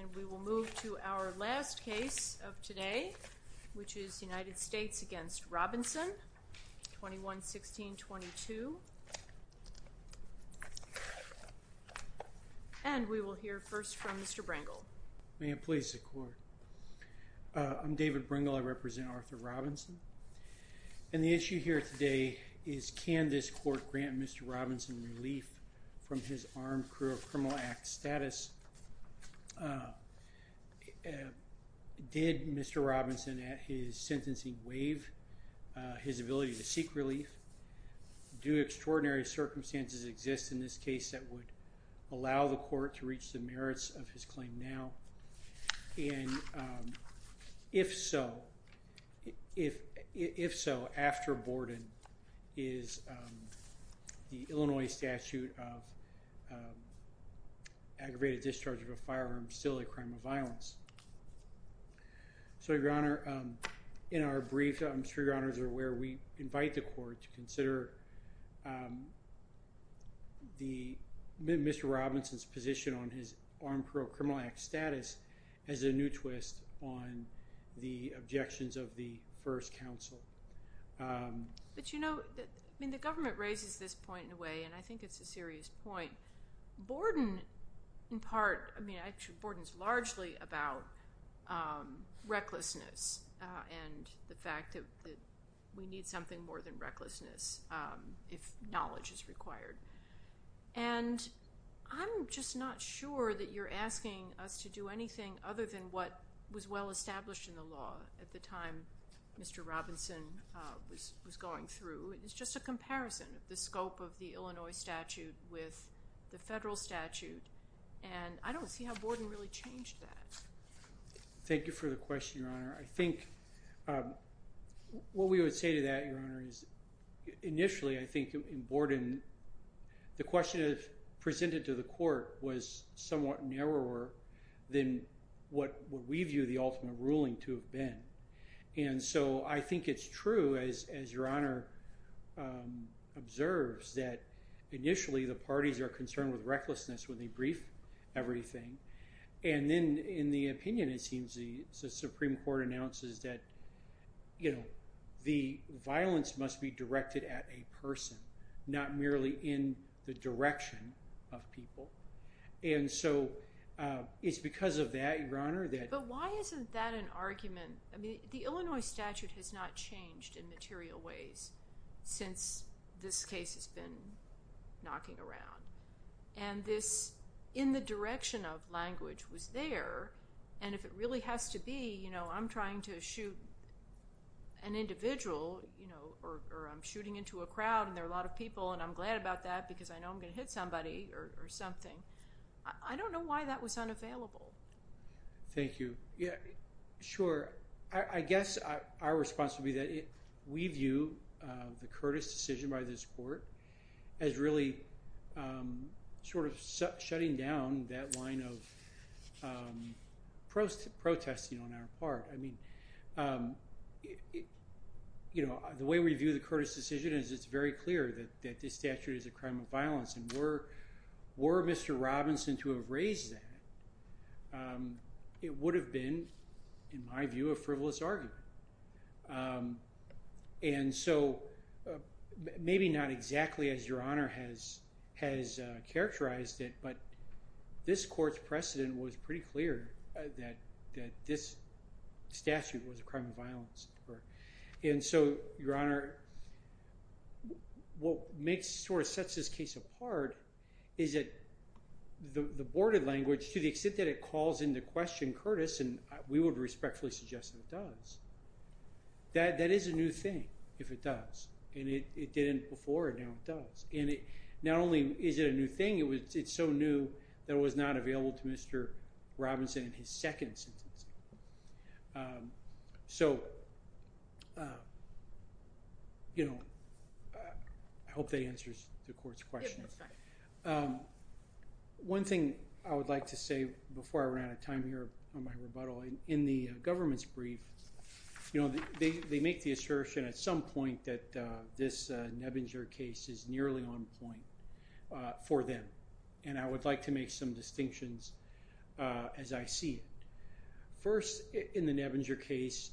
And we will move to our last case of today, which is United States v. Robinson, 21-16-22. And we will hear first from Mr. Brangle. May it please the Court. I'm David Brangle. I represent Arthur Robinson. And the issue here today is can this Court grant Mr. Robinson relief from his Armed Crew of Criminal Act status? Did Mr. Robinson at his sentencing waive his ability to seek relief? Do extraordinary circumstances exist in this case that would allow the Court to reach the merits of his claim now? And if so, if so, after Borden is the Illinois statute of aggravated discharge of a firearm still a crime of violence. So, Your Honor, in our brief, I'm sure Your Honors are aware, we invite the Court to consider Mr. Robinson's position on his Armed Crew of Criminal Act status as a new twist on the objections of the first counsel. But, you know, I mean the government raises this point in a way, and I think it's a serious point. Borden, in part, I mean actually Borden is largely about recklessness and the fact that we need something more than recklessness if knowledge is required. And I'm just not sure that you're asking us to do anything other than what was well established in the law at the time Mr. Robinson was going through. It's just a comparison of the scope of the Illinois statute with the federal statute, and I don't see how Borden really changed that. Thank you for the question, Your Honor. I think what we would say to that, Your Honor, is initially I think in Borden the question presented to the Court was somewhat narrower than what we view the ultimate ruling to have been. And so I think it's true, as Your Honor observes, that initially the parties are concerned with recklessness when they brief everything. And then in the opinion it seems the Supreme Court announces that, you know, the violence must be directed at a person, not merely in the direction of people. And so it's because of that, Your Honor, that… But why isn't that an argument? I mean, the Illinois statute has not changed in material ways since this case has been knocking around. And this in the direction of language was there, and if it really has to be, you know, I'm trying to shoot an individual, you know, or I'm shooting into a crowd and there are a lot of people and I'm glad about that because I know I'm going to hit somebody or something. I don't know why that was unavailable. Thank you. Yeah, sure. I guess our response would be that we view the Curtis decision by this Court as really sort of shutting down that line of protesting on our part. I mean, you know, the way we view the Curtis decision is it's very clear that this statute is a crime of violence, and were Mr. Robinson to have raised that, it would have been, in my view, a frivolous argument. And so maybe not exactly as Your Honor has characterized it, but this Court's precedent was pretty clear that this statute was a crime of violence. And so, Your Honor, what sort of sets this case apart is that the board of language, to the extent that it calls into question Curtis, and we would respectfully suggest that it does, that is a new thing if it does. And it didn't before, and now it does. And not only is it a new thing, it's so new that it was not available to Mr. Robinson in his second sentence. So, you know, I hope that answers the Court's question. One thing I would like to say before I run out of time here on my rebuttal, in the government's brief, you know, they make the assertion at some point that this Nebinger case is nearly on point for them. And I would like to make some distinctions as I see it. First, in the Nebinger case,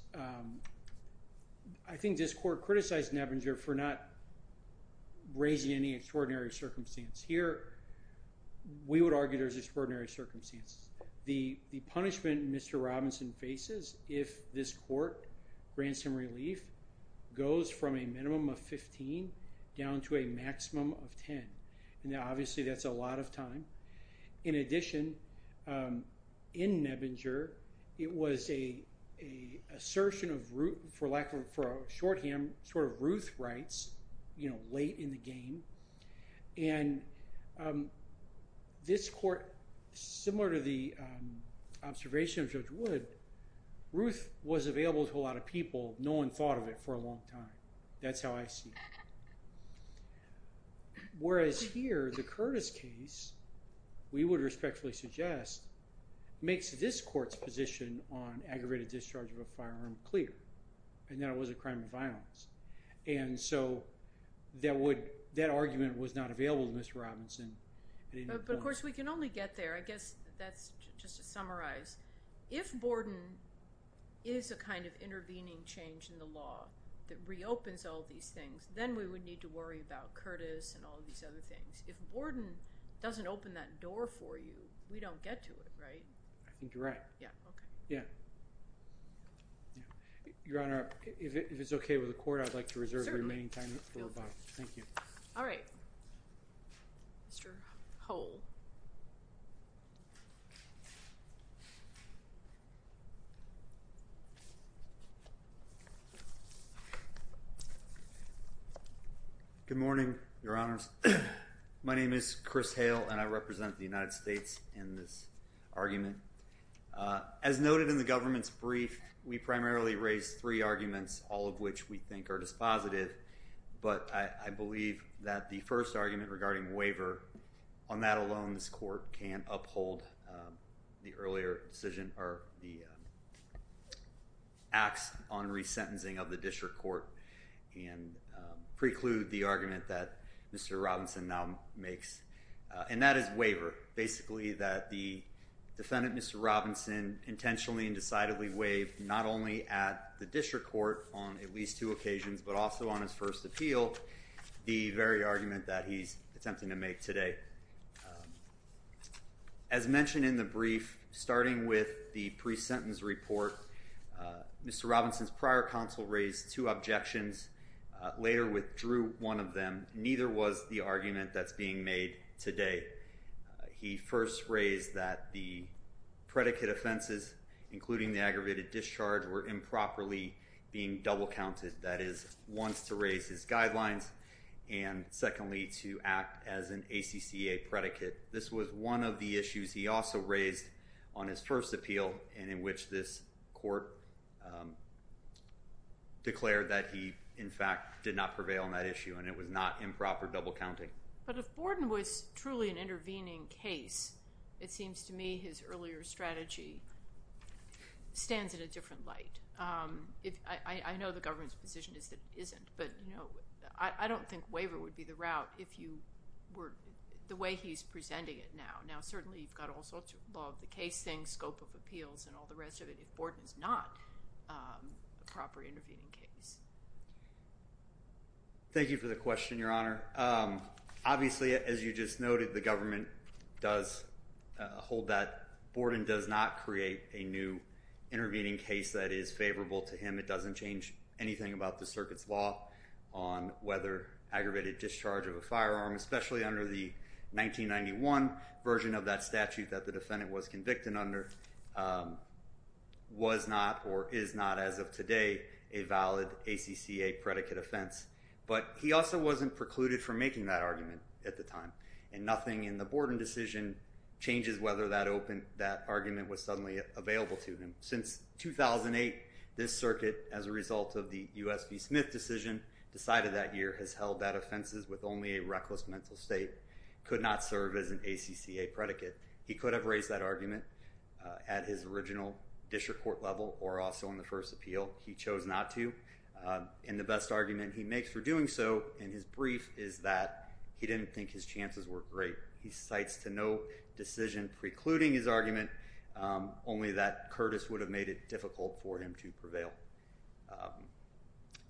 I think this Court criticized Nebinger for not raising any extraordinary circumstance. Here, we would argue there's extraordinary circumstances. The punishment Mr. Robinson faces, if this Court grants him relief, goes from a minimum of 15 down to a maximum of 10. Now, obviously, that's a lot of time. In addition, in Nebinger, it was an assertion of, for lack of, for a shorthand, sort of Ruth rights, you know, late in the game. And this Court, similar to the observation of Judge Wood, Ruth was available to a lot of people. No one thought of it for a long time. That's how I see it. Whereas here, the Curtis case, we would respectfully suggest, makes this Court's position on aggravated discharge of a firearm clear, and that it was a crime of violence. And so that argument was not available to Mr. Robinson. But, of course, we can only get there. I guess that's just to summarize. If Borden is a kind of intervening change in the law that reopens all these things, then we would need to worry about Curtis and all these other things. If Borden doesn't open that door for you, we don't get to it, right? I think you're right. Yeah, okay. Yeah. Your Honor, if it's okay with the Court, I'd like to reserve the remaining time for rebuttal. Thank you. All right. Mr. Hull. Good morning, Your Honors. My name is Chris Hale, and I represent the United States in this argument. As noted in the government's brief, we primarily raised three arguments, all of which we think are dispositive. But I believe that the first argument regarding waiver, on that alone, this Court can uphold the earlier decision or the acts on resentencing of the district court and preclude the argument that Mr. Robinson now makes. And that is waiver, basically, that the defendant, Mr. Robinson, intentionally and decidedly waived, not only at the district court on at least two occasions, but also on his first appeal, the very argument that he's attempting to make today. As mentioned in the brief, starting with the pre-sentence report, Mr. Robinson's prior counsel raised two objections, later withdrew one of them. Neither was the argument that's being made today. He first raised that the predicate offenses, including the aggravated discharge, were improperly being double-counted, that is, once to raise his guidelines, and secondly, to act as an ACCA predicate. This was one of the issues he also raised on his first appeal, and in which this Court declared that he, in fact, did not prevail on that issue, and it was not improper double-counting. But if Borden was truly an intervening case, it seems to me his earlier strategy stands in a different light. I know the government's position is that it isn't, but, you know, I don't think waiver would be the route if you were – the way he's presenting it now. Now, certainly, you've got all sorts of law of the case things, scope of appeals, and all the rest of it, if Borden's not a proper intervening case. Thank you for the question, Your Honor. Obviously, as you just noted, the government does hold that Borden does not create a new intervening case that is favorable to him. It doesn't change anything about the circuit's law on whether aggravated discharge of a firearm, especially under the 1991 version of that statute that the defendant was convicted under, was not or is not, as of today, a valid ACCA predicate offense. But he also wasn't precluded from making that argument at the time, and nothing in the Borden decision changes whether that argument was suddenly available to him. Since 2008, this circuit, as a result of the U.S. v. Smith decision decided that year, has held that offenses with only a reckless mental state could not serve as an ACCA predicate. He could have raised that argument at his original district court level or also in the first appeal. He chose not to, and the best argument he makes for doing so in his brief is that he didn't think his chances were great. He cites to no decision precluding his argument, only that Curtis would have made it difficult for him to prevail.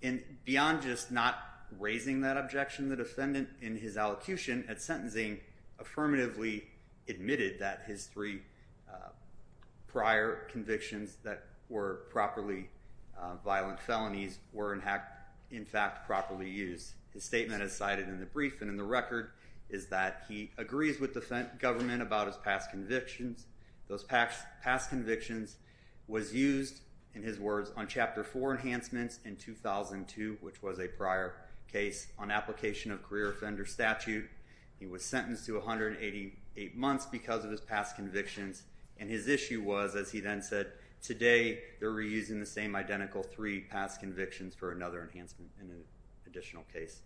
And beyond just not raising that objection, the defendant in his allocution at sentencing affirmatively admitted that his three prior convictions that were properly violent felonies were in fact properly used. His statement is cited in the brief and in the record is that he agrees with the government about his past convictions. Those past convictions was used, in his words, on Chapter 4 enhancements in 2002, which was a prior case on application of career offender statute. He was sentenced to 188 months because of his past convictions, and his issue was, as he then said, today they're reusing the same identical three past convictions for another enhancement in an additional case.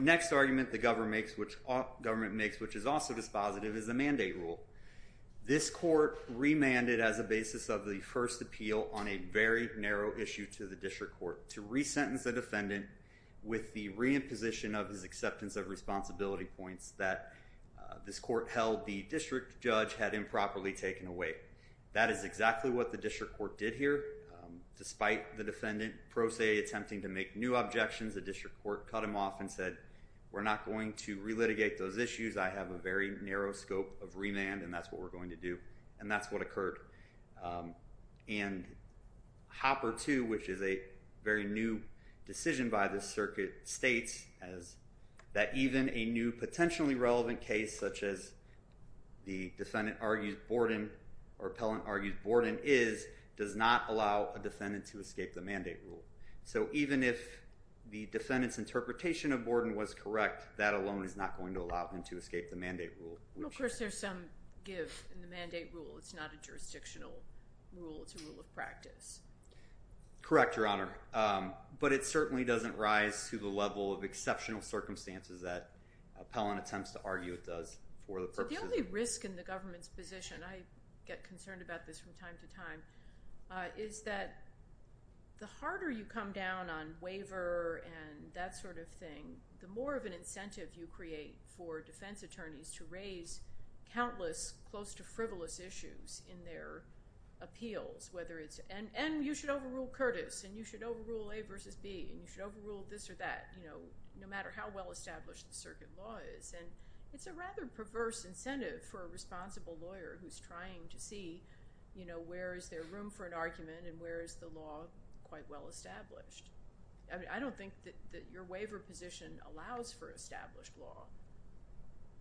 The next argument the government makes, which is also dispositive, is the mandate rule. This court remanded as a basis of the first appeal on a very narrow issue to the district court to resentence the defendant with the reimposition of his acceptance of responsibility points that this court held the district judge had improperly taken away. That is exactly what the district court did here. Despite the defendant pro se attempting to make new objections, the district court cut him off and said, we're not going to relitigate those issues. I have a very narrow scope of remand, and that's what we're going to do. And that's what occurred. And Hopper 2, which is a very new decision by the circuit, states that even a new potentially relevant case, such as the defendant argues Borden or appellant argues Borden is, does not allow a defendant to escape the mandate rule. So even if the defendant's interpretation of Borden was correct, that alone is not going to allow him to escape the mandate rule. Well, of course, there's some give in the mandate rule. It's not a jurisdictional rule. It's a rule of practice. Correct, Your Honor. But it certainly doesn't rise to the level of exceptional circumstances that appellant attempts to argue it does for the purposes. The only risk in the government's position, I get concerned about this from time to time, is that the harder you come down on waiver and that sort of thing, the more of an incentive you create for defense attorneys to raise countless close to frivolous issues in their appeals, whether it's, and you should overrule Curtis, and you should overrule A versus B, and you should overrule this or that, no matter how well established the circuit law is. And it's a rather perverse incentive for a responsible lawyer who's trying to see where is there room for an argument and where is the law quite well established. I don't think that your waiver position allows for established law,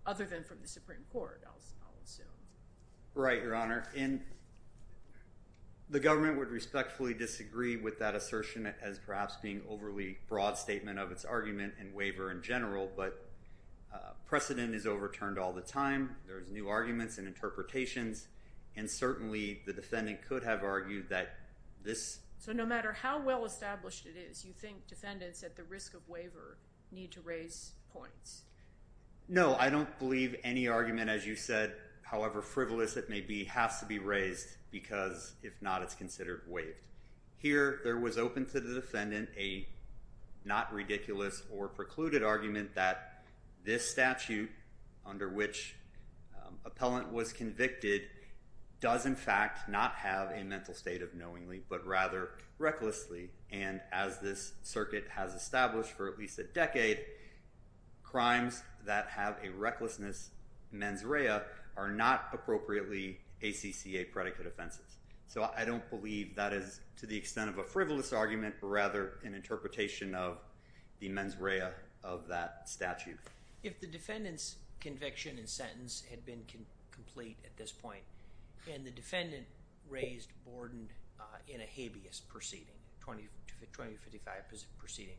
other than from the Supreme Court, I'll assume. Right, Your Honor. And the government would respectfully disagree with that assertion as perhaps being overly broad statement of its argument and waiver in general, but precedent is overturned all the time. There's new arguments and interpretations, and certainly the defendant could have argued that this – So no matter how well established it is, you think defendants at the risk of waiver need to raise points? No, I don't believe any argument, as you said, however frivolous it may be, has to be raised because if not, it's considered waived. Here, there was open to the defendant a not ridiculous or precluded argument that this statute, under which appellant was convicted, does in fact not have a mental state of knowingly, but rather recklessly, and as this circuit has established for at least a decade, crimes that have a recklessness mens rea are not appropriately ACCA predicate offenses. So I don't believe that is to the extent of a frivolous argument, but rather an interpretation of the mens rea of that statute. If the defendant's conviction and sentence had been complete at this point, and the defendant raised Borden in a habeas proceeding, a 2055 proceeding,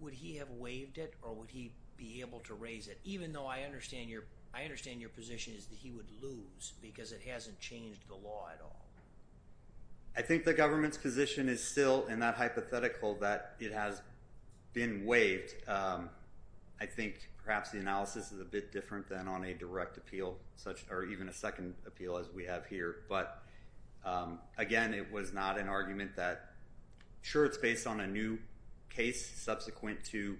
would he have waived it or would he be able to raise it, even though I understand your position is that he would lose because it hasn't changed the law at all? I think the government's position is still in that hypothetical that it has been waived. I think perhaps the analysis is a bit different than on a direct appeal, or even a second appeal as we have here. But again, it was not an argument that, sure, it's based on a new case subsequent to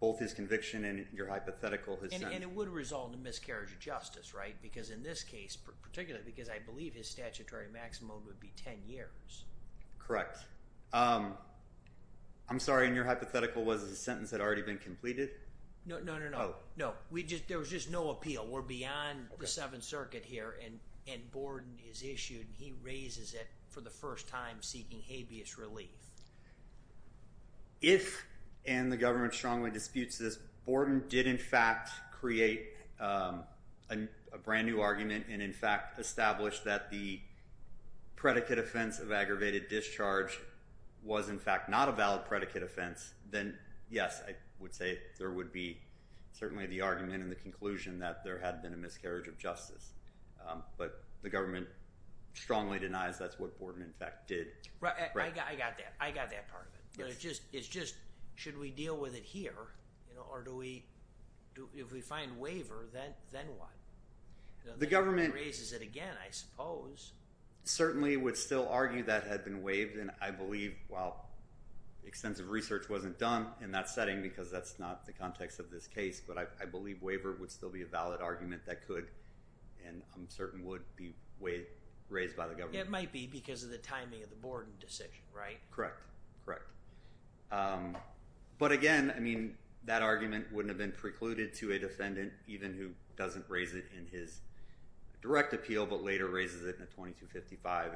both his conviction and your hypothetical. And it would result in miscarriage of justice, right? Because in this case, particularly because I believe his statutory maximum would be 10 years. Correct. I'm sorry, and your hypothetical was a sentence that had already been completed? No, no, no, no. There was just no appeal. We're beyond the Seventh Circuit here, and Borden is issued, and he raises it for the first time seeking habeas relief. If, and the government strongly disputes this, Borden did in fact create a brand new argument and in fact establish that the predicate offense of aggravated discharge was in fact not a valid predicate offense, then yes, I would say there would be certainly the argument and the conclusion that there had been a miscarriage of justice. But the government strongly denies that's what Borden in fact did. Right, I got that. I got that part of it. It's just, should we deal with it here, or do we, if we find waiver, then what? The government raises it again, I suppose. Certainly would still argue that had been waived, and I believe, well, extensive research wasn't done in that setting because that's not the context of this case, but I believe waiver would still be a valid argument that could and I'm certain would be raised by the government. It might be because of the timing of the Borden decision, right? Correct, correct. But again, I mean, that argument wouldn't have been precluded to a defendant, even who doesn't raise it in his direct appeal, but later raises it in a 2255.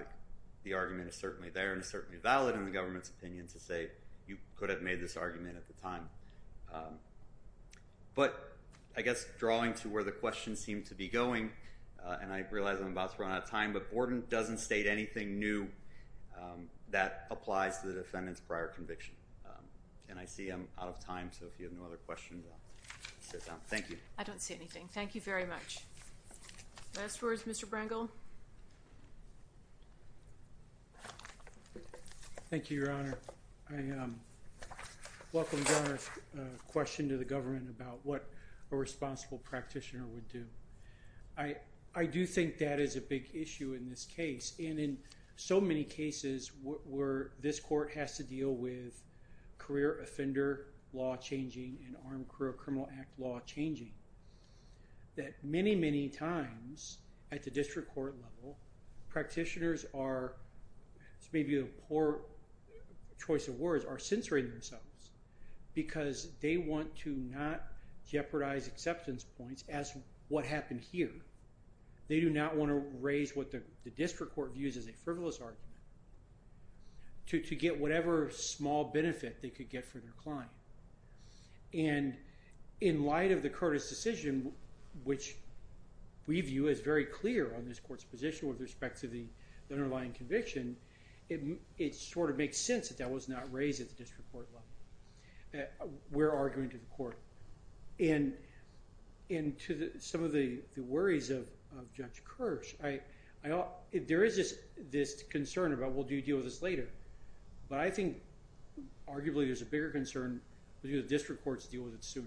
The argument is certainly there and certainly valid in the government's opinion to say you could have made this argument at the time. But I guess drawing to where the question seemed to be going, and I realize I'm about to run out of time, but Borden doesn't state anything new that applies to the defendant's prior conviction. And I see I'm out of time, so if you have no other questions, I'll sit down. Thank you. I don't see anything. Thank you very much. Last words, Mr. Brangle? Thank you, Your Honor. I welcome your question to the government about what a responsible practitioner would do. I do think that is a big issue in this case, and in so many cases where this court has to deal with career offender law changing and armed career criminal act law changing, that many, many times at the district court level, practitioners are, this may be a poor choice of words, are censoring themselves because they want to not jeopardize acceptance points as what happened here. They do not want to raise what the district court views as a frivolous argument to get whatever small benefit they could get for their client. And in light of the Curtis decision, which we view as very clear on this court's position with respect to the underlying conviction, it sort of makes sense that that was not raised at the district court level. We're arguing to the court. And to some of the worries of Judge Kirsch, there is this concern about, well, do you deal with this later? But I think arguably there's a bigger concern because district courts deal with it sooner.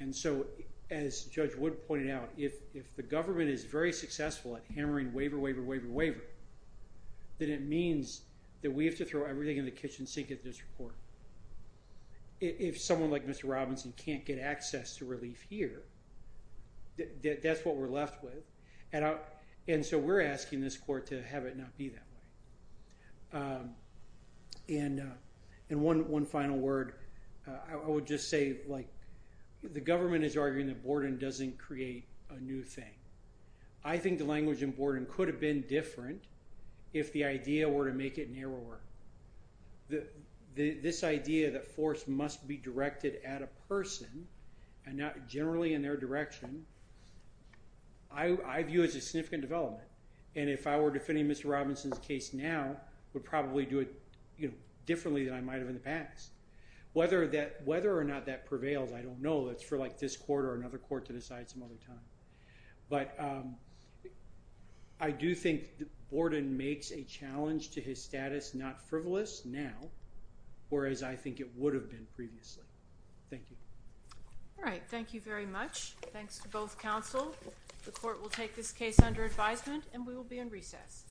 And so as Judge Wood pointed out, if the government is very successful at hammering waiver, waiver, waiver, waiver, then it means that we have to throw everything in the kitchen sink at the district court. If someone like Mr. Robinson can't get access to relief here, that's what we're left with. And so we're asking this court to have it not be that way. And one final word. I would just say, like, the government is arguing that Borden doesn't create a new thing. I think the language in Borden could have been different if the idea were to make it narrower. This idea that force must be directed at a person and not generally in their direction, I view as a significant development. And if I were defending Mr. Robinson's case now, I would probably do it differently than I might have in the past. Whether or not that prevails, I don't know. It's for, like, this court or another court to decide some other time. But I do think Borden makes a challenge to his status not frivolous now, whereas I think it would have been previously. Thank you. All right, thank you very much. Thanks to both counsel. The court will take this case under advisement, and we will be in recess.